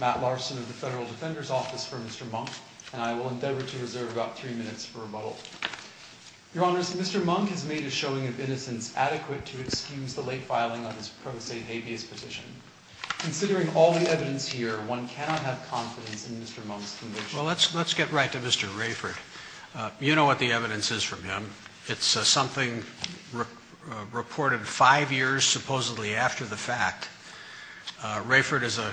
Matt Larson of the Federal Defender's Office for Mr. Monk, and I will endeavor to reserve about three minutes for rebuttal. Your Honors, Mr. Monk has made a showing of innocence adequate to excuse the late filing of his pro se habeas petition. Considering all the evidence here, one cannot have confidence in Mr. Monk's conviction. Well, let's get right to Mr. Rayford. You know what the evidence is from him. It's something reported five years supposedly after the fact. Rayford is a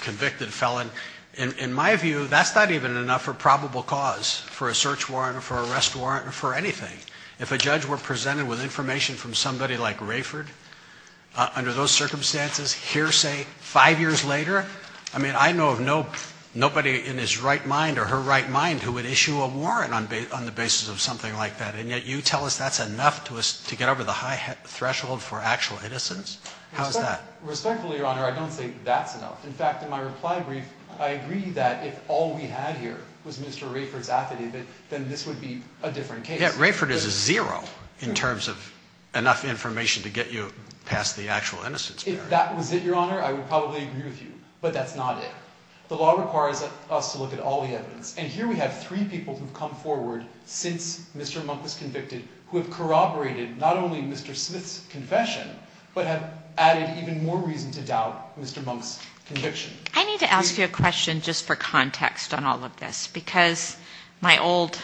convicted felon. In my view, that's not even enough for probable cause for a search warrant or for arrest warrant or for anything. If a judge were presented with information from somebody like Rayford under those circumstances, hearsay five years later, I mean, I know of nobody in his right mind or her right mind who would issue a warrant on the basis of something like that. And yet you tell us that's enough to us to get over the high threshold for actual innocence. How is that? Respectfully, Your Honor, I don't think that's enough. In fact, in my reply brief, I agree that if all we had here was Mr. Rayford's affidavit, then this would be a different case. Yeah, Rayford is a zero in terms of enough information to get you past the actual innocence barrier. If that was it, Your Honor, I would probably agree with you. But that's not it. The law requires us to look at all the evidence. And here we have three people who have come forward since Mr. Monk was convicted who have corroborated not only Mr. Smith's confession but have added even more reason to doubt Mr. Monk's conviction. I need to ask you a question just for context on all of this because my old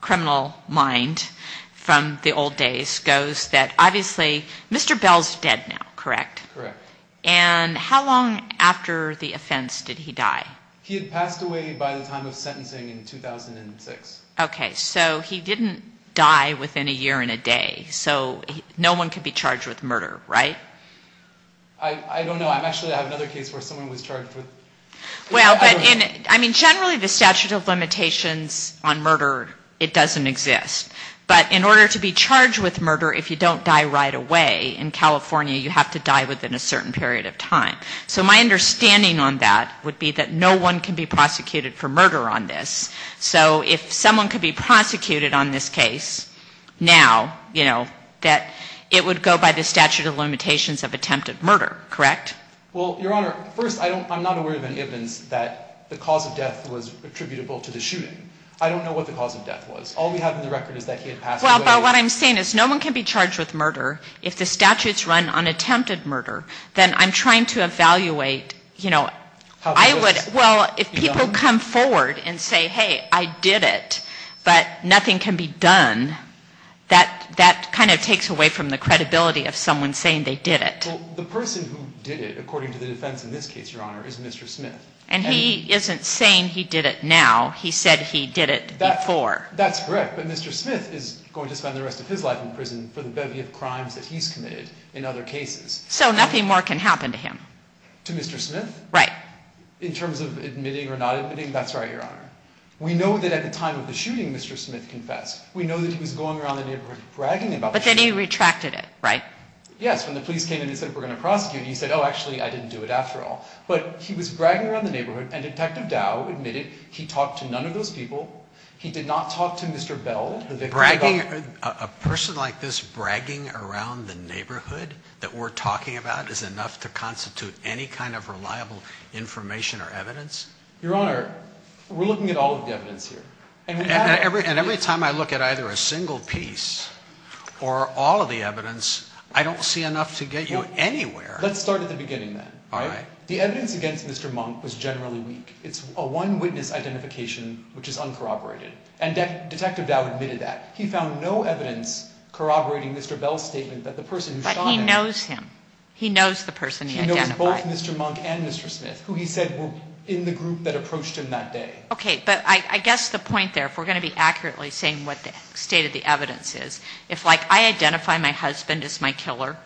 criminal mind from the old days goes that, obviously, Mr. Bell is dead now, correct? Correct. And how long after the offense did he die? He had passed away by the time of sentencing in 2006. Okay. So he didn't die within a year and a day. So no one could be charged with murder, right? I don't know. I actually have another case where someone was charged with murder. Well, I mean, generally the statute of limitations on murder, it doesn't exist. But in order to be charged with murder, if you don't die right away, in California you have to die within a certain period of time. So my understanding on that would be that no one can be prosecuted for murder on this. So if someone could be prosecuted on this case now, you know, that it would go by the statute of limitations of attempted murder, correct? Well, Your Honor, first I'm not aware of any evidence that the cause of death was attributable to the shooting. I don't know what the cause of death was. All we have in the record is that he had passed away. Well, what I'm saying is no one can be charged with murder if the statute's run on attempted murder. Then I'm trying to evaluate, you know, I would, well, if people come forward and say, hey, I did it, but nothing can be done, that kind of takes away from the credibility of someone saying they did it. Well, the person who did it, according to the defense in this case, Your Honor, is Mr. Smith. And he isn't saying he did it now. He said he did it before. That's correct. But Mr. Smith is going to spend the rest of his life in prison for the bevy of crimes that he's committed in other cases. So nothing more can happen to him. To Mr. Smith? Right. In terms of admitting or not admitting, that's right, Your Honor. We know that at the time of the shooting, Mr. Smith confessed. We know that he was going around the neighborhood bragging about it. But then he retracted it, right? Yes, when the police came in and said, we're going to prosecute, he said, oh, actually, I didn't do it after all. But he was bragging around the neighborhood, and Detective Dow admitted he talked to none of those people. He did not talk to Mr. Bell. Bragging, a person like this bragging around the neighborhood that we're talking about is enough to constitute any kind of reliable information or evidence? Your Honor, we're looking at all of the evidence here. And every time I look at either a single piece or all of the evidence, I don't see enough to get you anywhere. Let's start at the beginning then. All right. The evidence against Mr. Monk was generally weak. It's a one witness identification, which is uncorroborated. And Detective Dow admitted that. He found no evidence corroborating Mr. Bell's statement that the person who shot him. But he knows him. He knows the person he identified. He knows both Mr. Monk and Mr. Smith, who he said were in the group that approached him that day. Okay, but I guess the point there, if we're going to be accurately saying what the state of the evidence is, if, like, I identify my husband as my killer,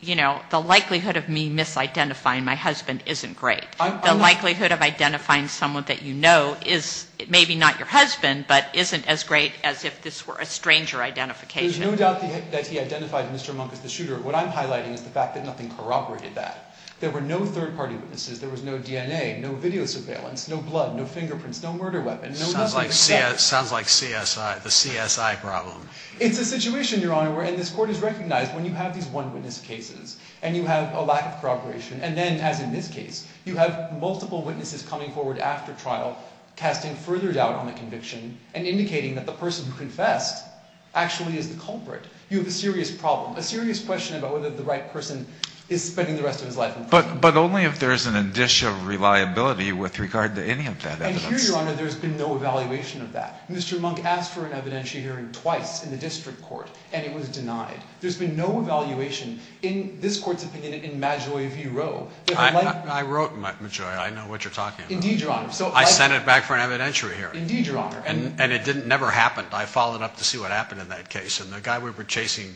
you know, the likelihood of me misidentifying my husband isn't great. The likelihood of identifying someone that you know is maybe not your husband, but isn't as great as if this were a stranger identification. There's no doubt that he identified Mr. Monk as the shooter. What I'm highlighting is the fact that nothing corroborated that. There were no third party witnesses. There was no DNA, no video surveillance, no blood, no fingerprints, no murder weapon. Sounds like CSI, the CSI problem. It's a situation, Your Honor, where, and this Court has recognized when you have these one witness cases and you have a lack of corroboration, and then, as in this case, you have multiple witnesses coming forward after trial casting further doubt on the conviction and indicating that the person who confessed actually is the culprit. You have a serious problem, a serious question about whether the right person is spending the rest of his life in prison. But only if there's an addition of reliability with regard to any of that evidence. And here, Your Honor, there's been no evaluation of that. Mr. Monk asked for an evidentiary hearing twice in the district court, and it was denied. There's been no evaluation in this Court's opinion in Maggioi v. Roe. I wrote Maggioi. I know what you're talking about. Indeed, Your Honor. I sent it back for an evidentiary hearing. Indeed, Your Honor. And it never happened. I followed up to see what happened in that case. And the guy we were chasing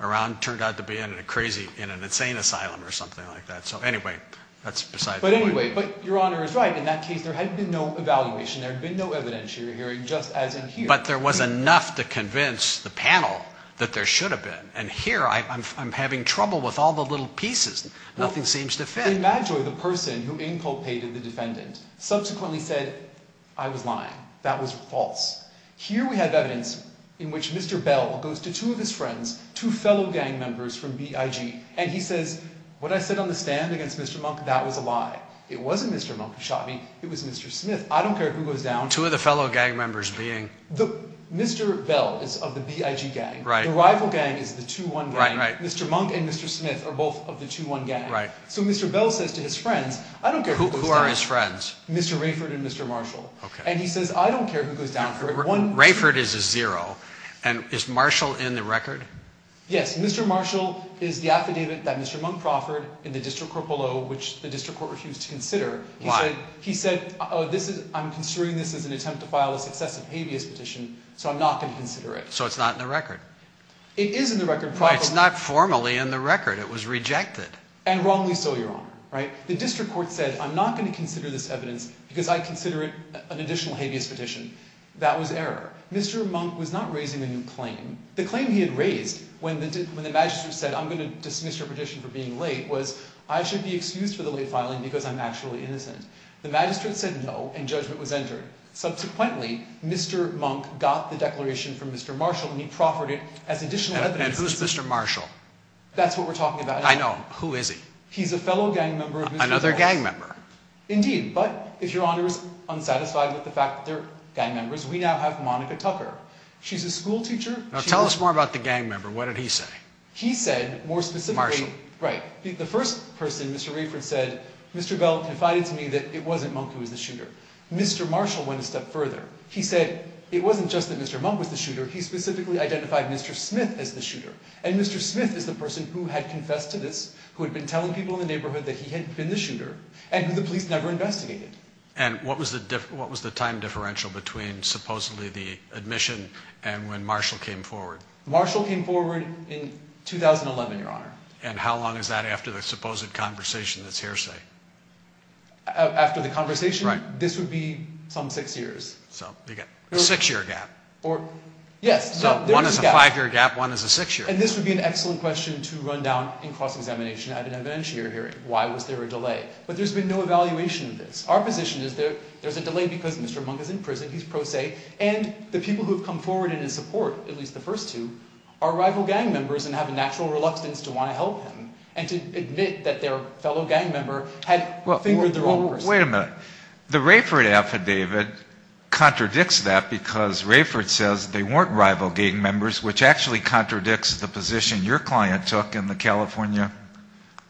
around turned out to be in a crazy, in an insane asylum or something like that. So, anyway, that's beside the point. But, anyway, Your Honor is right. In that case, there had been no evaluation. There had been no evidentiary hearing, just as in here. But there was enough to convince the panel that there should have been. And here, I'm having trouble with all the little pieces. Nothing seems to fit. In Maggioi, the person who inculpated the defendant subsequently said, I was lying. That was false. Here we have evidence in which Mr. Bell goes to two of his friends, two fellow gang members from BIG, and he says, what I said on the stand against Mr. Monk, that was a lie. It wasn't Mr. Monk who shot me. It was Mr. Smith. I don't care who goes down. Among two of the fellow gang members being? Mr. Bell is of the BIG gang. The rival gang is the 2-1 gang. Mr. Monk and Mr. Smith are both of the 2-1 gang. So Mr. Bell says to his friends, I don't care who goes down. Who are his friends? Mr. Rayford and Mr. Marshall. And he says, I don't care who goes down. Rayford is a zero. And is Marshall in the record? Yes. Mr. Marshall is the affidavit that Mr. Monk proffered in the district court below, which the district court refused to consider. Why? He said, I'm considering this as an attempt to file a successive habeas petition, so I'm not going to consider it. So it's not in the record? It is in the record. But it's not formally in the record. It was rejected. And wrongly so, Your Honor. The district court said, I'm not going to consider this evidence because I consider it an additional habeas petition. That was error. Mr. Monk was not raising a new claim. The claim he had raised when the magistrate said, I'm going to dismiss your petition for being late, was, I should be excused for the late filing because I'm actually innocent. The magistrate said no, and judgment was entered. Subsequently, Mr. Monk got the declaration from Mr. Marshall, and he proffered it as additional evidence. And who's Mr. Marshall? That's what we're talking about. I know. Who is he? He's a fellow gang member of Mr. Marshall's. Another gang member. Indeed. But, if Your Honor is unsatisfied with the fact that they're gang members, we now have Monica Tucker. She's a school teacher. Now, tell us more about the gang member. What did he say? He said, more specifically, Right. The first person, Mr. Rayford, said, Mr. Bell confided to me that it wasn't Monk who was the shooter. Mr. Marshall went a step further. He said, it wasn't just that Mr. Monk was the shooter. He specifically identified Mr. Smith as the shooter. And Mr. Smith is the person who had confessed to this, who had been telling people in the neighborhood that he had been the shooter, and who the police never investigated. And what was the time differential between supposedly the admission and when Marshall came forward? Marshall came forward in 2011, Your Honor. And how long is that after the supposed conversation that's hearsay? After the conversation? Right. This would be some six years. So, you've got a six-year gap. Yes. So, one is a five-year gap, one is a six-year gap. And this would be an excellent question to run down in cross-examination at an evidentiary hearing. Why was there a delay? But there's been no evaluation of this. Our position is there's a delay because Mr. Monk is in prison, he's pro se, and the people who have come forward in his support, at least the first two, are rival gang members and have a natural reluctance to want to help him and to admit that their fellow gang member had fingered their own person. Wait a minute. The Rayford affidavit contradicts that because Rayford says they weren't rival gang members, which actually contradicts the position your client took in the California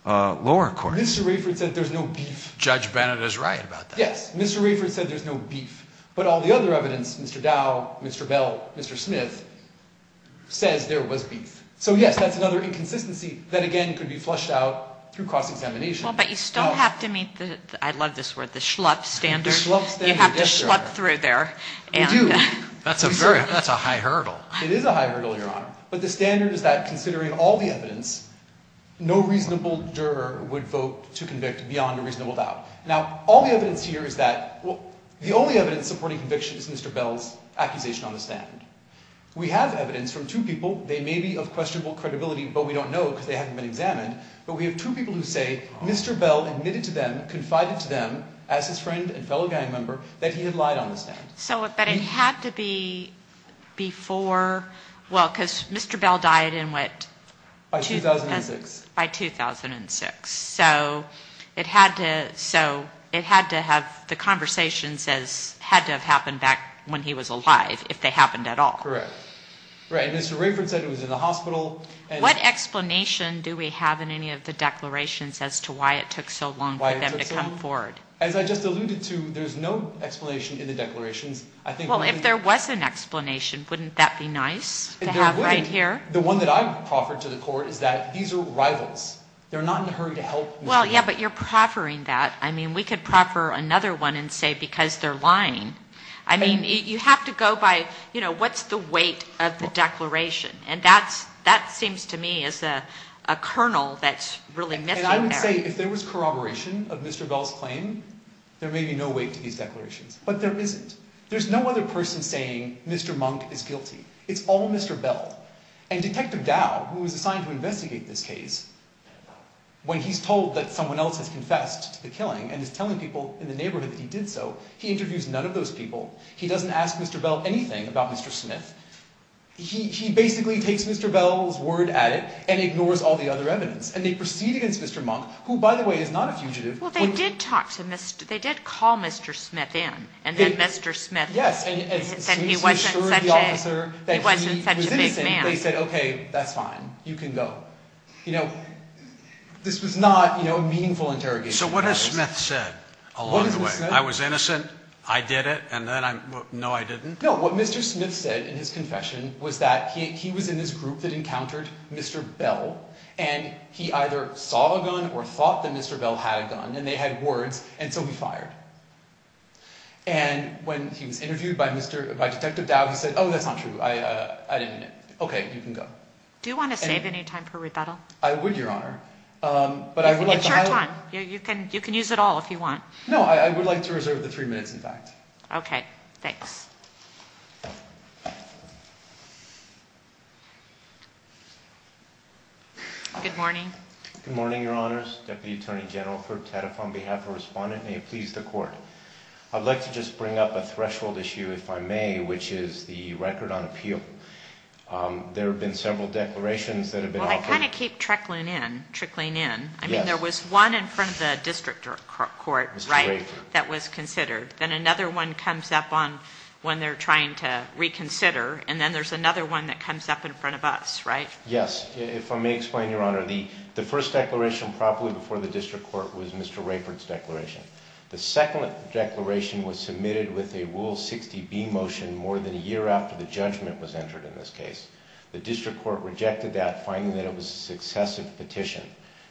lower court. Mr. Rayford said there's no beef. Judge Bennett is right about that. Yes. Mr. Rayford said there's no beef. But all the other evidence, Mr. Dow, Mr. Bell, Mr. Smith, says there was beef. So, yes, that's another inconsistency that, again, could be flushed out through cross-examination. Well, but you still have to meet the, I love this word, the schlup standard. You have to schlup through there. We do. That's a high hurdle. It is a high hurdle, Your Honor. But the standard is that considering all the evidence, no reasonable juror would vote to convict beyond a reasonable doubt. Now, all the evidence here is that the only evidence supporting conviction is Mr. Bell's accusation on the stand. We have evidence from two people. They may be of questionable credibility, but we don't know because they haven't been examined. But we have two people who say Mr. Bell admitted to them, confided to them, as his friend and fellow gang member, that he had lied on the stand. So, but it had to be before, well, because Mr. Bell died in what? By 2006. By 2006. So it had to have the conversations as had to have happened back when he was alive, if they happened at all. Correct. Right. And Mr. Rayford said it was in the hospital. What explanation do we have in any of the declarations as to why it took so long for them to come forward? Why it took so long? As I just alluded to, there's no explanation in the declarations. Well, if there was an explanation, wouldn't that be nice to have right here? The one that I proffered to the court is that these are rivals. They're not in a hurry to help Mr. Bell. Well, yeah, but you're proffering that. I mean, we could proffer another one and say because they're lying. I mean, you have to go by, you know, what's the weight of the declaration? And that seems to me as a kernel that's really missing there. And I would say if there was corroboration of Mr. Bell's claim, there may be no weight to these declarations. But there isn't. There's no other person saying Mr. Monk is guilty. It's all Mr. Bell. And Detective Dow, who was assigned to investigate this case, when he's told that someone else has confessed to the killing and is telling people in the neighborhood that he did so, he interviews none of those people. He doesn't ask Mr. Bell anything about Mr. Smith. He basically takes Mr. Bell's word at it and ignores all the other evidence. And they proceed against Mr. Monk, who, by the way, is not a fugitive. Well, they did talk to Mr. – they did call Mr. Smith in. And then Mr. Smith said he wasn't such a big man. They said, okay, that's fine. You can go. You know, this was not, you know, a meaningful interrogation. So what has Smith said along the way? I was innocent. I did it. And then I'm – no, I didn't? No. What Mr. Smith said in his confession was that he was in this group that encountered Mr. Bell. And he either saw a gun or thought that Mr. Bell had a gun. And they had words, and so he fired. And when he was interviewed by Mr. – by Detective Dow, he said, oh, that's not true. I didn't mean it. Okay, you can go. Do you want to save any time for rebuttal? I would, Your Honor. But I would like to – It's your time. You can use it all if you want. No, I would like to reserve the three minutes, in fact. Okay. Thanks. Good morning. Good morning, Your Honors. Deputy Attorney General Herb Taddeff on behalf of the respondent. May it please the Court. I'd like to just bring up a threshold issue, if I may, which is the record on appeal. There have been several declarations that have been – Well, I kind of keep trickling in. I mean, there was one in front of the district court, right, that was considered. Then another one comes up on – when they're trying to reconsider. And then there's another one that comes up in front of us, right? Yes. If I may explain, Your Honor, the first declaration properly before the district court was Mr. Rayford's declaration. The second declaration was submitted with a Rule 60B motion more than a year after the judgment was entered in this case. The district court rejected that, finding that it was a successive petition.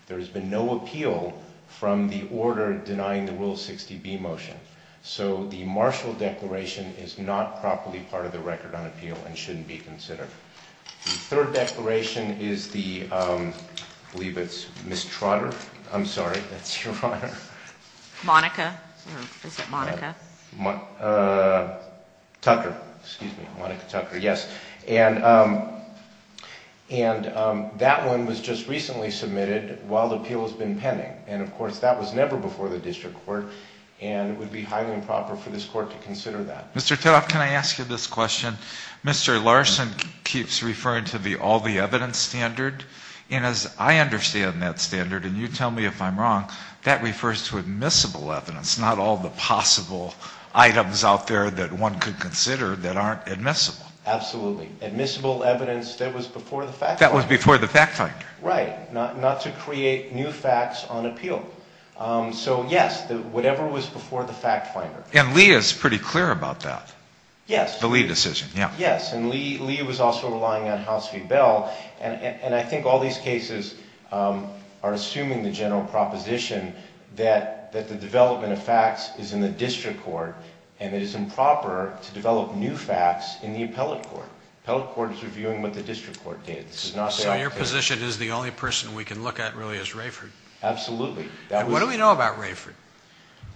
There has been no appeal from the order denying the Rule 60B motion. So the Marshall declaration is not properly part of the record on appeal and shouldn't be considered. The third declaration is the – I believe it's Ms. Trotter. I'm sorry, that's Your Honor. Monica. Is it Monica? Tucker. Excuse me. Monica Tucker, yes. And that one was just recently submitted while the appeal has been pending. And, of course, that was never before the district court and it would be highly improper for this court to consider that. Mr. Teraff, can I ask you this question? Mr. Larson keeps referring to the all the evidence standard. And as I understand that standard, and you tell me if I'm wrong, that refers to admissible evidence, not all the possible items out there that one could consider that aren't admissible. Absolutely. Admissible evidence that was before the fact finder. That was before the fact finder. Right. Not to create new facts on appeal. So, yes, whatever was before the fact finder. And Lee is pretty clear about that. Yes. The Lee decision. Yes. And Lee was also relying on House v. Bell. And I think all these cases are assuming the general proposition that the development of facts is in the district court and it is improper to develop new facts in the appellate court. The appellate court is reviewing what the district court did. So your position is the only person we can look at really is Rayford. Absolutely. What do we know about Rayford?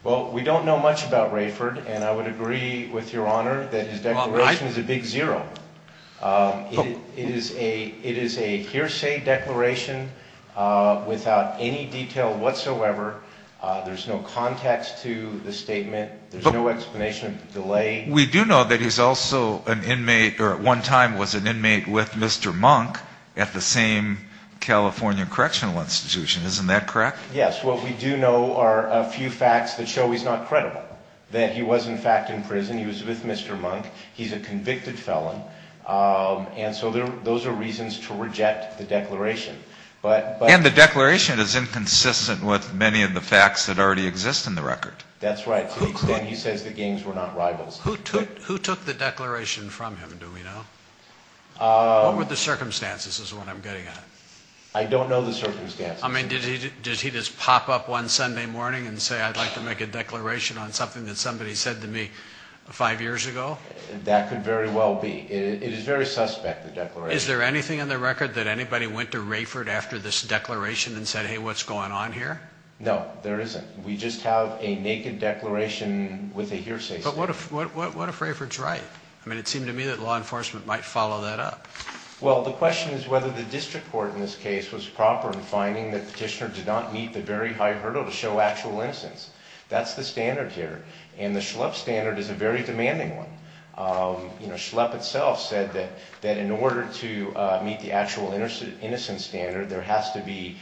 Well, we don't know much about Rayford. And I would agree with Your Honor that his declaration is a big zero. It is a hearsay declaration without any detail whatsoever. There's no context to the statement. There's no explanation of the delay. We do know that he's also an inmate or at one time was an inmate with Mr. Monk at the same California correctional institution. Isn't that correct? Yes. What we do know are a few facts that show he's not credible, that he was, in fact, in prison. He was with Mr. Monk. He's a convicted felon. And so those are reasons to reject the declaration. And the declaration is inconsistent with many of the facts that already exist in the record. That's right. To the extent he says the games were not rivals. Who took the declaration from him, do we know? What were the circumstances is what I'm getting at. I don't know the circumstances. I mean, did he just pop up one Sunday morning and say, I'd like to make a declaration on something that somebody said to me five years ago? That could very well be. It is very suspect, the declaration. Is there anything in the record that anybody went to Rayford after this declaration and said, hey, what's going on here? No, there isn't. We just have a naked declaration with a hearsay statement. But what if Rayford's right? I mean, it seemed to me that law enforcement might follow that up. Well, the question is whether the district court in this case was proper in finding that the petitioner did not meet the very high hurdle to show actual innocence. That's the standard here. And the Schlepp standard is a very demanding one. You know, Schlepp itself said that in order to meet the actual innocence standard, there has to be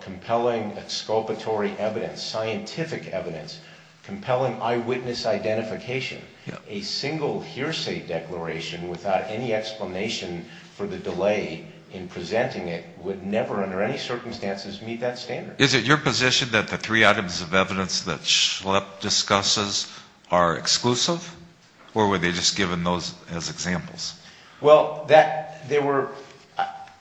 compelling exculpatory evidence, scientific evidence, compelling eyewitness identification. A single hearsay declaration without any explanation for the delay in presenting it would never under any circumstances meet that standard. Is it your position that the three items of evidence that Schlepp discusses are exclusive? Or were they just given those as examples? Well,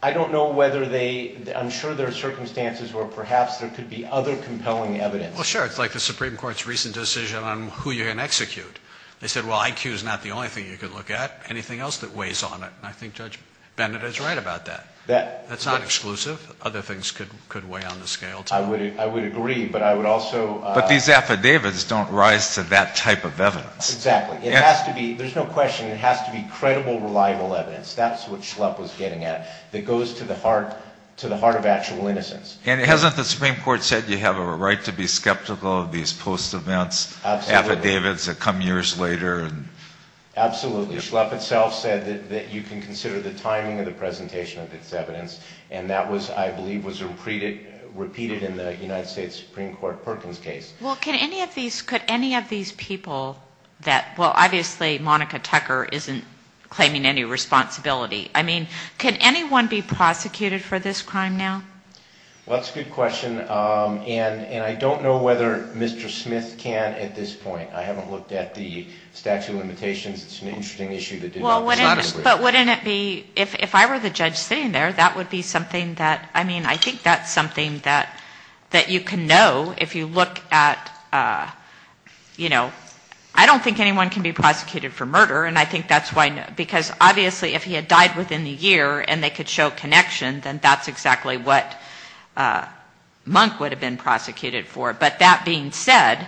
I don't know whether they, I'm sure there are circumstances where perhaps there could be other compelling evidence. Well, sure. It's like the Supreme Court's recent decision on who you're going to execute. They said, well, IQ is not the only thing you can look at. Anything else that weighs on it. And I think Judge Bennett is right about that. That's not exclusive. Other things could weigh on the scale, too. I would agree, but I would also. But these affidavits don't rise to that type of evidence. Exactly. It has to be, there's no question, it has to be credible, reliable evidence. That's what Schlepp was getting at. It goes to the heart of actual innocence. And hasn't the Supreme Court said you have a right to be skeptical of these post-events affidavits that come years later? Absolutely. Schlepp itself said that you can consider the timing of the presentation of this evidence. And that was, I believe, was repeated in the United States Supreme Court Perkins case. Well, could any of these people that, well, obviously, Monica Tucker isn't claiming any responsibility. I mean, could anyone be prosecuted for this crime now? Well, that's a good question. And I don't know whether Mr. Smith can at this point. I haven't looked at the statute of limitations. It's an interesting issue to deal with. But wouldn't it be, if I were the judge sitting there, that would be something that, I mean, I think that's something that you can know if you look at, you know, I don't think anyone can be prosecuted for murder, and I think that's why, because obviously if he had died within the year and they could show connection, then that's exactly what Monk would have been prosecuted for. But that being said,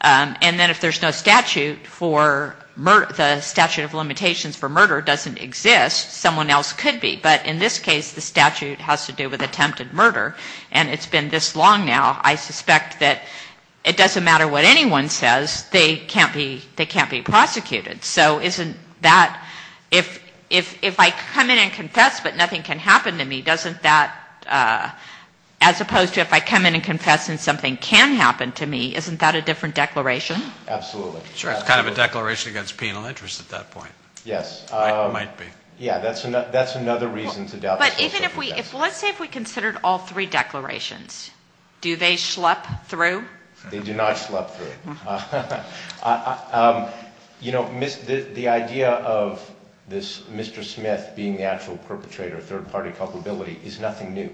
and then if there's no statute for murder, the statute of limitations for murder doesn't exist, someone else could be. But in this case, the statute has to do with attempted murder, and it's been this long now. I suspect that it doesn't matter what anyone says. They can't be prosecuted. So isn't that, if I come in and confess but nothing can happen to me, doesn't that, as opposed to if I come in and confess and something can happen to me, isn't that a different declaration? Absolutely. Sure, it's kind of a declaration against penal interest at that point. Yes. It might be. Yeah, that's another reason to doubt the statute of limitations. But even if we, let's say if we considered all three declarations, do they schlep through? They do not schlep through. You know, the idea of this Mr. Smith being the actual perpetrator, third-party culpability, is nothing new.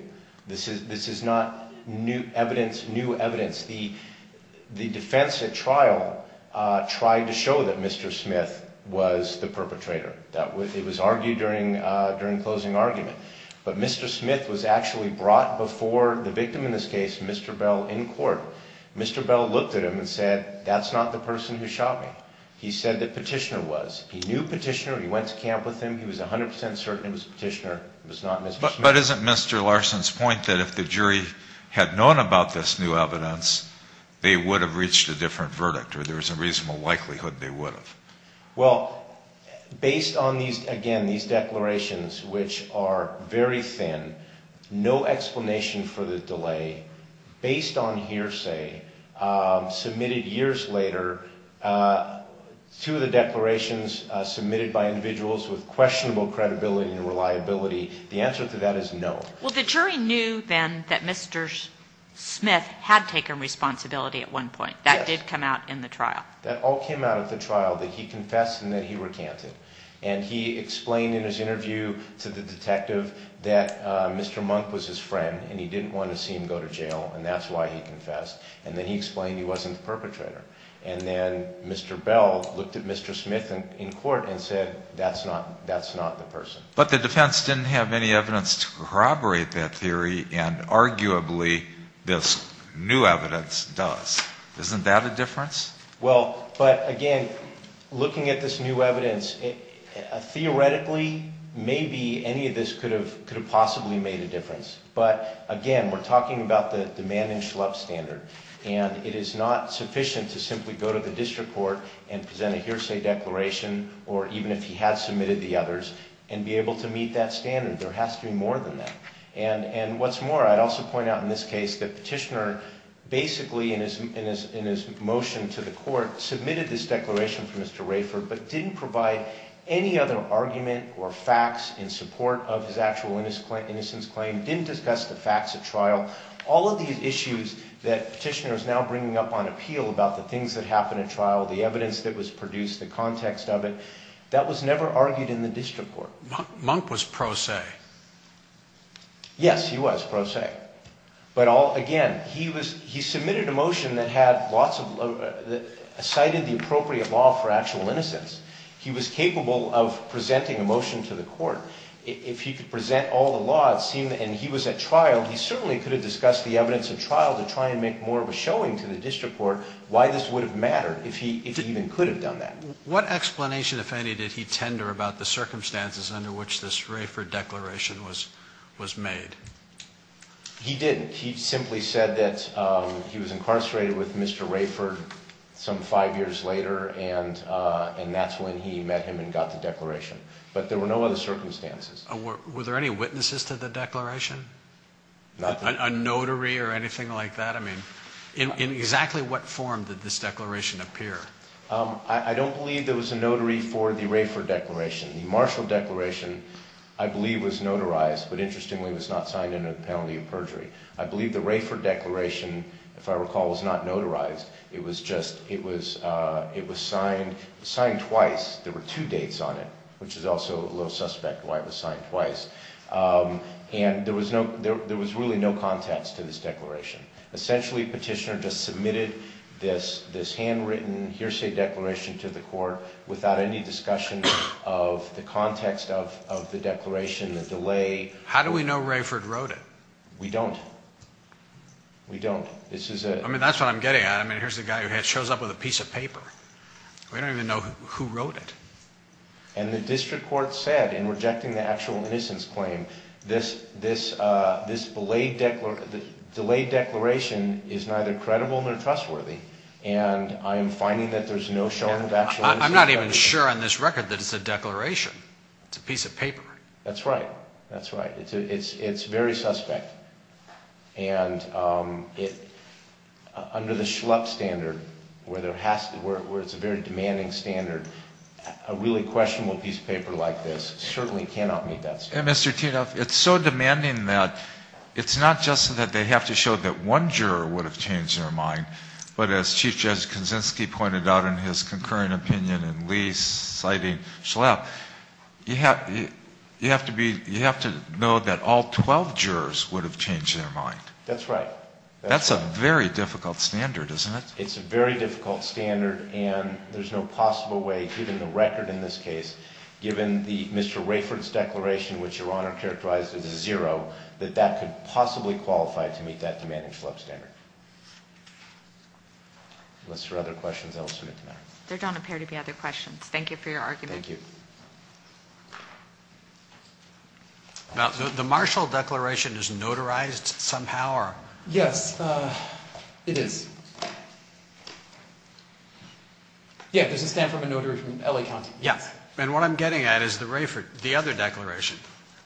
This is not new evidence, new evidence. The defense at trial tried to show that Mr. Smith was the perpetrator. It was argued during closing argument. But Mr. Smith was actually brought before the victim in this case, Mr. Bell, in court. Mr. Bell looked at him and said, that's not the person who shot me. He said that Petitioner was. He knew Petitioner. He went to camp with him. He was 100 percent certain it was Petitioner. It was not Mr. Smith. But isn't Mr. Larson's point that if the jury had known about this new evidence, they would have reached a different verdict or there was a reasonable likelihood they would have? Well, based on these, again, these declarations, which are very thin, no explanation for the delay, based on hearsay submitted years later to the declarations submitted by individuals with questionable credibility and reliability, the answer to that is no. Well, the jury knew then that Mr. Smith had taken responsibility at one point. That did come out in the trial. That all came out at the trial, that he confessed and that he recanted. And he explained in his interview to the detective that Mr. Monk was his friend, and he didn't want to see him go to jail, and that's why he confessed. And then he explained he wasn't the perpetrator. And then Mr. Bell looked at Mr. Smith in court and said, that's not the person. But the defense didn't have any evidence to corroborate that theory, and arguably this new evidence does. Isn't that a difference? Well, but, again, looking at this new evidence, theoretically, maybe any of this could have possibly made a difference. But, again, we're talking about the demand and show up standard, and it is not sufficient to simply go to the district court and present a hearsay declaration, or even if he had submitted the others, and be able to meet that standard. There has to be more than that. And what's more, I'd also point out in this case that Petitioner basically, in his motion to the court, submitted this declaration for Mr. Rafer, but didn't provide any other argument or facts in support of his actual innocence claim, didn't discuss the facts at trial. All of these issues that Petitioner is now bringing up on appeal about the things that happened at trial, the evidence that was produced, the context of it, that was never argued in the district court. So Monk was pro se. Yes, he was pro se. But, again, he submitted a motion that cited the appropriate law for actual innocence. He was capable of presenting a motion to the court. If he could present all the laws, and he was at trial, he certainly could have discussed the evidence at trial to try and make more of a showing to the district court why this would have mattered, if he even could have done that. What explanation, if any, did he tender about the circumstances under which this Rafer declaration was made? He didn't. He simply said that he was incarcerated with Mr. Rafer some five years later, and that's when he met him and got the declaration. But there were no other circumstances. Were there any witnesses to the declaration? A notary or anything like that? I mean, in exactly what form did this declaration appear? I don't believe there was a notary for the Rafer declaration. The Marshall declaration, I believe, was notarized, but interestingly was not signed into the penalty of perjury. I believe the Rafer declaration, if I recall, was not notarized. It was just signed twice. There were two dates on it, which is also a little suspect why it was signed twice. And there was really no context to this declaration. Essentially, Petitioner just submitted this handwritten hearsay declaration to the court without any discussion of the context of the declaration, the delay. How do we know Rafer wrote it? We don't. We don't. I mean, that's what I'm getting at. I mean, here's the guy who shows up with a piece of paper. We don't even know who wrote it. And the district court said in rejecting the actual innocence claim, this delayed declaration is neither credible nor trustworthy, and I am finding that there's no showing of actual innocence. I'm not even sure on this record that it's a declaration. It's a piece of paper. That's right. That's right. It's very suspect. And under the Schlepp standard, where it's a very demanding standard, a really questionable piece of paper like this certainly cannot meet that standard. And, Mr. Tinoff, it's so demanding that it's not just that they have to show that one juror would have changed their mind, but as Chief Justice Kuczynski pointed out in his concurring opinion and Lee citing Schlepp, you have to know that all 12 jurors would have changed their mind. That's right. That's a very difficult standard, isn't it? It's a very difficult standard, and there's no possible way, given the record in this case, given Mr. Rayford's declaration, which Your Honor characterized as a zero, that that could possibly qualify to meet that demanding Schlepp standard. Unless there are other questions, I will submit to the matter. There don't appear to be other questions. Thank you for your argument. Thank you. Now, the Marshall Declaration is notarized somehow? Yes, it is. Yeah, there's a stamp from a notary from L.A. County. Yeah, and what I'm getting at is the other declaration.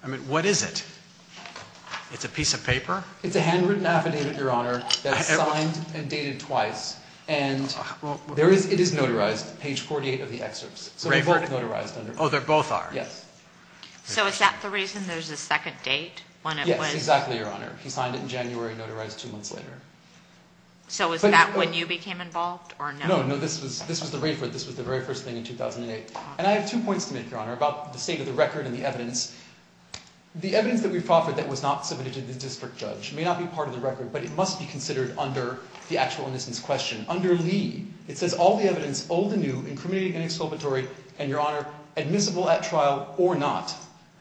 I mean, what is it? It's a piece of paper? It's a handwritten affidavit, Your Honor, that's signed and dated twice. And it is notarized, page 48 of the excerpts. Oh, they both are? Yes. So is that the reason there's a second date when it was? Yes, exactly, Your Honor. He signed it in January, notarized two months later. So was that when you became involved, or no? No, no, this was the very first thing in 2008. And I have two points to make, Your Honor, about the state of the record and the evidence. The evidence that we've offered that was not submitted to the district judge may not be part of the record, but it must be considered under the actual innocence question. Under Lee, it says all the evidence, old and new, incriminating and exculpatory, and, Your Honor, admissible at trial or not,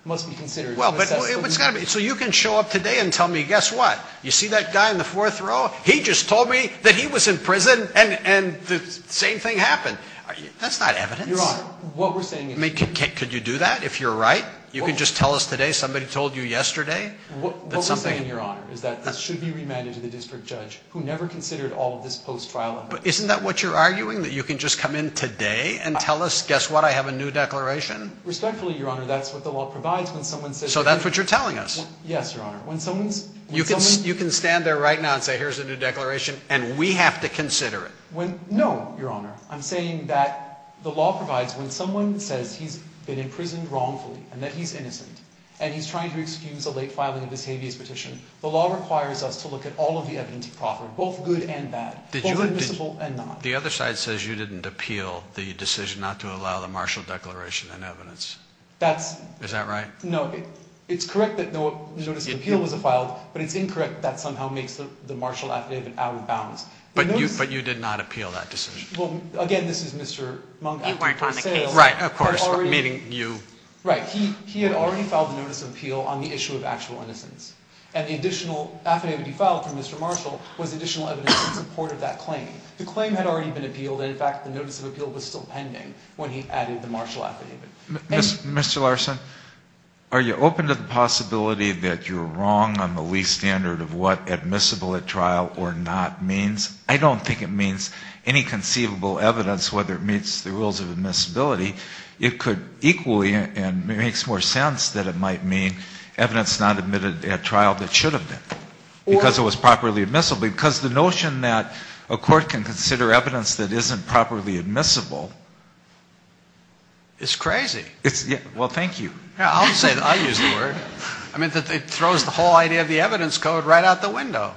must be considered. Well, but it's got to be. So you can show up today and tell me, guess what? You see that guy in the fourth row? He just told me that he was in prison and the same thing happened. That's not evidence. Your Honor, what we're saying is. I mean, could you do that if you're right? You can just tell us today somebody told you yesterday that something. What we're saying, Your Honor, is that this should be remanded to the district judge who never considered all of this post-trial evidence. But isn't that what you're arguing, that you can just come in today and tell us, guess what? I have a new declaration? Respectfully, Your Honor, that's what the law provides when someone says. So that's what you're telling us. Yes, Your Honor. When someone's... You can stand there right now and say, here's a new declaration, and we have to consider it. No, Your Honor. I'm saying that the law provides when someone says he's been imprisoned wrongfully and that he's innocent and he's trying to excuse a late filing of his habeas petition, the law requires us to look at all of the evidence he proffered, both good and bad, both admissible and not. The other side says you didn't appeal the decision not to allow the Marshall Declaration in evidence. That's... Is that right? No, it's correct that the Notice of Appeal was filed, but it's incorrect that somehow makes the Marshall Affidavit out of bounds. But you did not appeal that decision. Well, again, this is Mr. Monk... He worked on the case. Right, of course, meaning you. Right, he had already filed the Notice of Appeal on the issue of actual innocence. And the additional affidavit he filed from Mr. Marshall was additional evidence in support of that claim. The claim had already been appealed, and, in fact, the Notice of Appeal was still pending when he added the Marshall Affidavit. Mr. Larson, are you open to the possibility that you're wrong on the least standard of what admissible at trial or not means? I don't think it means any conceivable evidence, whether it meets the rules of admissibility. It could equally, and it makes more sense that it might mean evidence not admitted at trial that should have been because it was properly admissible. Because the notion that a court can consider evidence that isn't properly admissible is crazy. Well, thank you. I'll use the word. I mean, it throws the whole idea of the evidence code right out the window.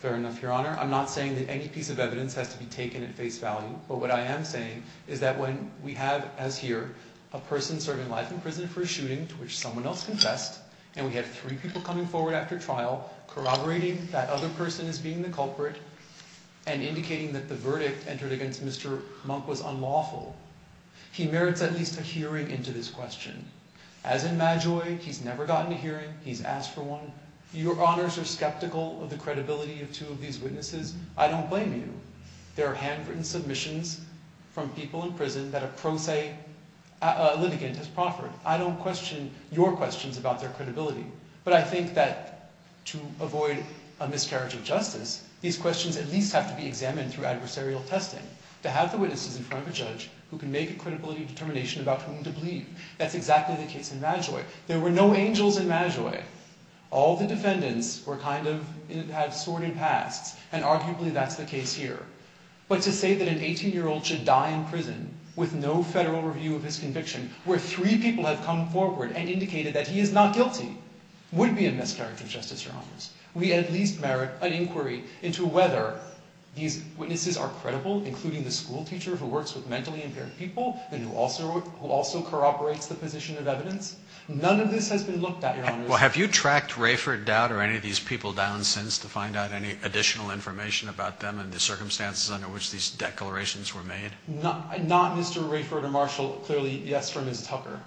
Fair enough, Your Honor. I'm not saying that any piece of evidence has to be taken at face value. But what I am saying is that when we have, as here, a person serving life in prison for a shooting to which someone else confessed, and we have three people coming forward after trial corroborating that other person as being the culprit and indicating that the verdict entered against Mr. Monk was unlawful, he merits at least a hearing into this question. As in Madjoy, he's never gotten a hearing. He's asked for one. Your Honors are skeptical of the credibility of two of these witnesses. I don't blame you. There are handwritten submissions from people in prison that a pro se litigant has proffered. I don't question your questions about their credibility. But I think that to avoid a miscarriage of justice, these questions at least have to be examined through adversarial testing. To have the witnesses in front of a judge who can make a credibility determination about whom to believe, that's exactly the case in Madjoy. There were no angels in Madjoy. All the defendants were kind of, had sordid pasts, and arguably that's the case here. But to say that an 18-year-old should die in prison with no federal review of his conviction, where three people have come forward and indicated that he is not guilty, would be a miscarriage of justice, Your Honors. We at least merit an inquiry into whether these witnesses are credible, including the school teacher who works with mentally impaired people and who also corroborates the position of evidence. None of this has been looked at, Your Honors. Well, have you tracked Rayford Dowd or any of these people down since to find out any additional information about them and the circumstances under which these declarations were made? Not Mr. Rayford or Marshall. Clearly, yes, from Ms. Tucker.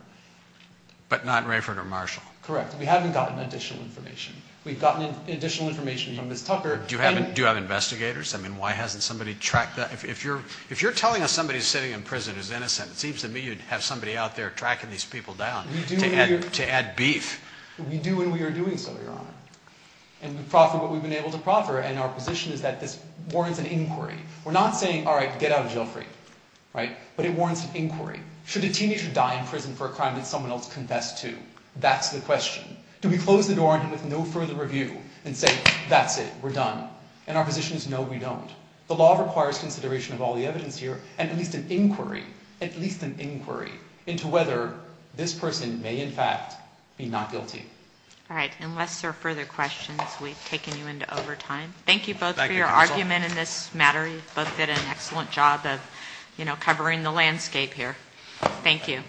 But not Rayford or Marshall. Correct. We haven't gotten additional information. We've gotten additional information from Ms. Tucker. Do you have investigators? I mean, why hasn't somebody tracked that? If you're telling us somebody's sitting in prison who's innocent, it seems to me you'd have somebody out there tracking these people down. To add beef. We do, and we are doing so, Your Honor. And we've been able to proffer, and our position is that this warrants an inquiry. We're not saying, all right, get out of jail free. Right? But it warrants an inquiry. Should a teenager die in prison for a crime that someone else confessed to? That's the question. Do we close the door on him with no further review and say, that's it, we're done? And our position is, no, we don't. The law requires consideration of all the evidence here and at least an inquiry, into whether this person may, in fact, be not guilty. All right. Unless there are further questions, we've taken you into overtime. Thank you both for your argument in this matter. You both did an excellent job of covering the landscape here. Thank you.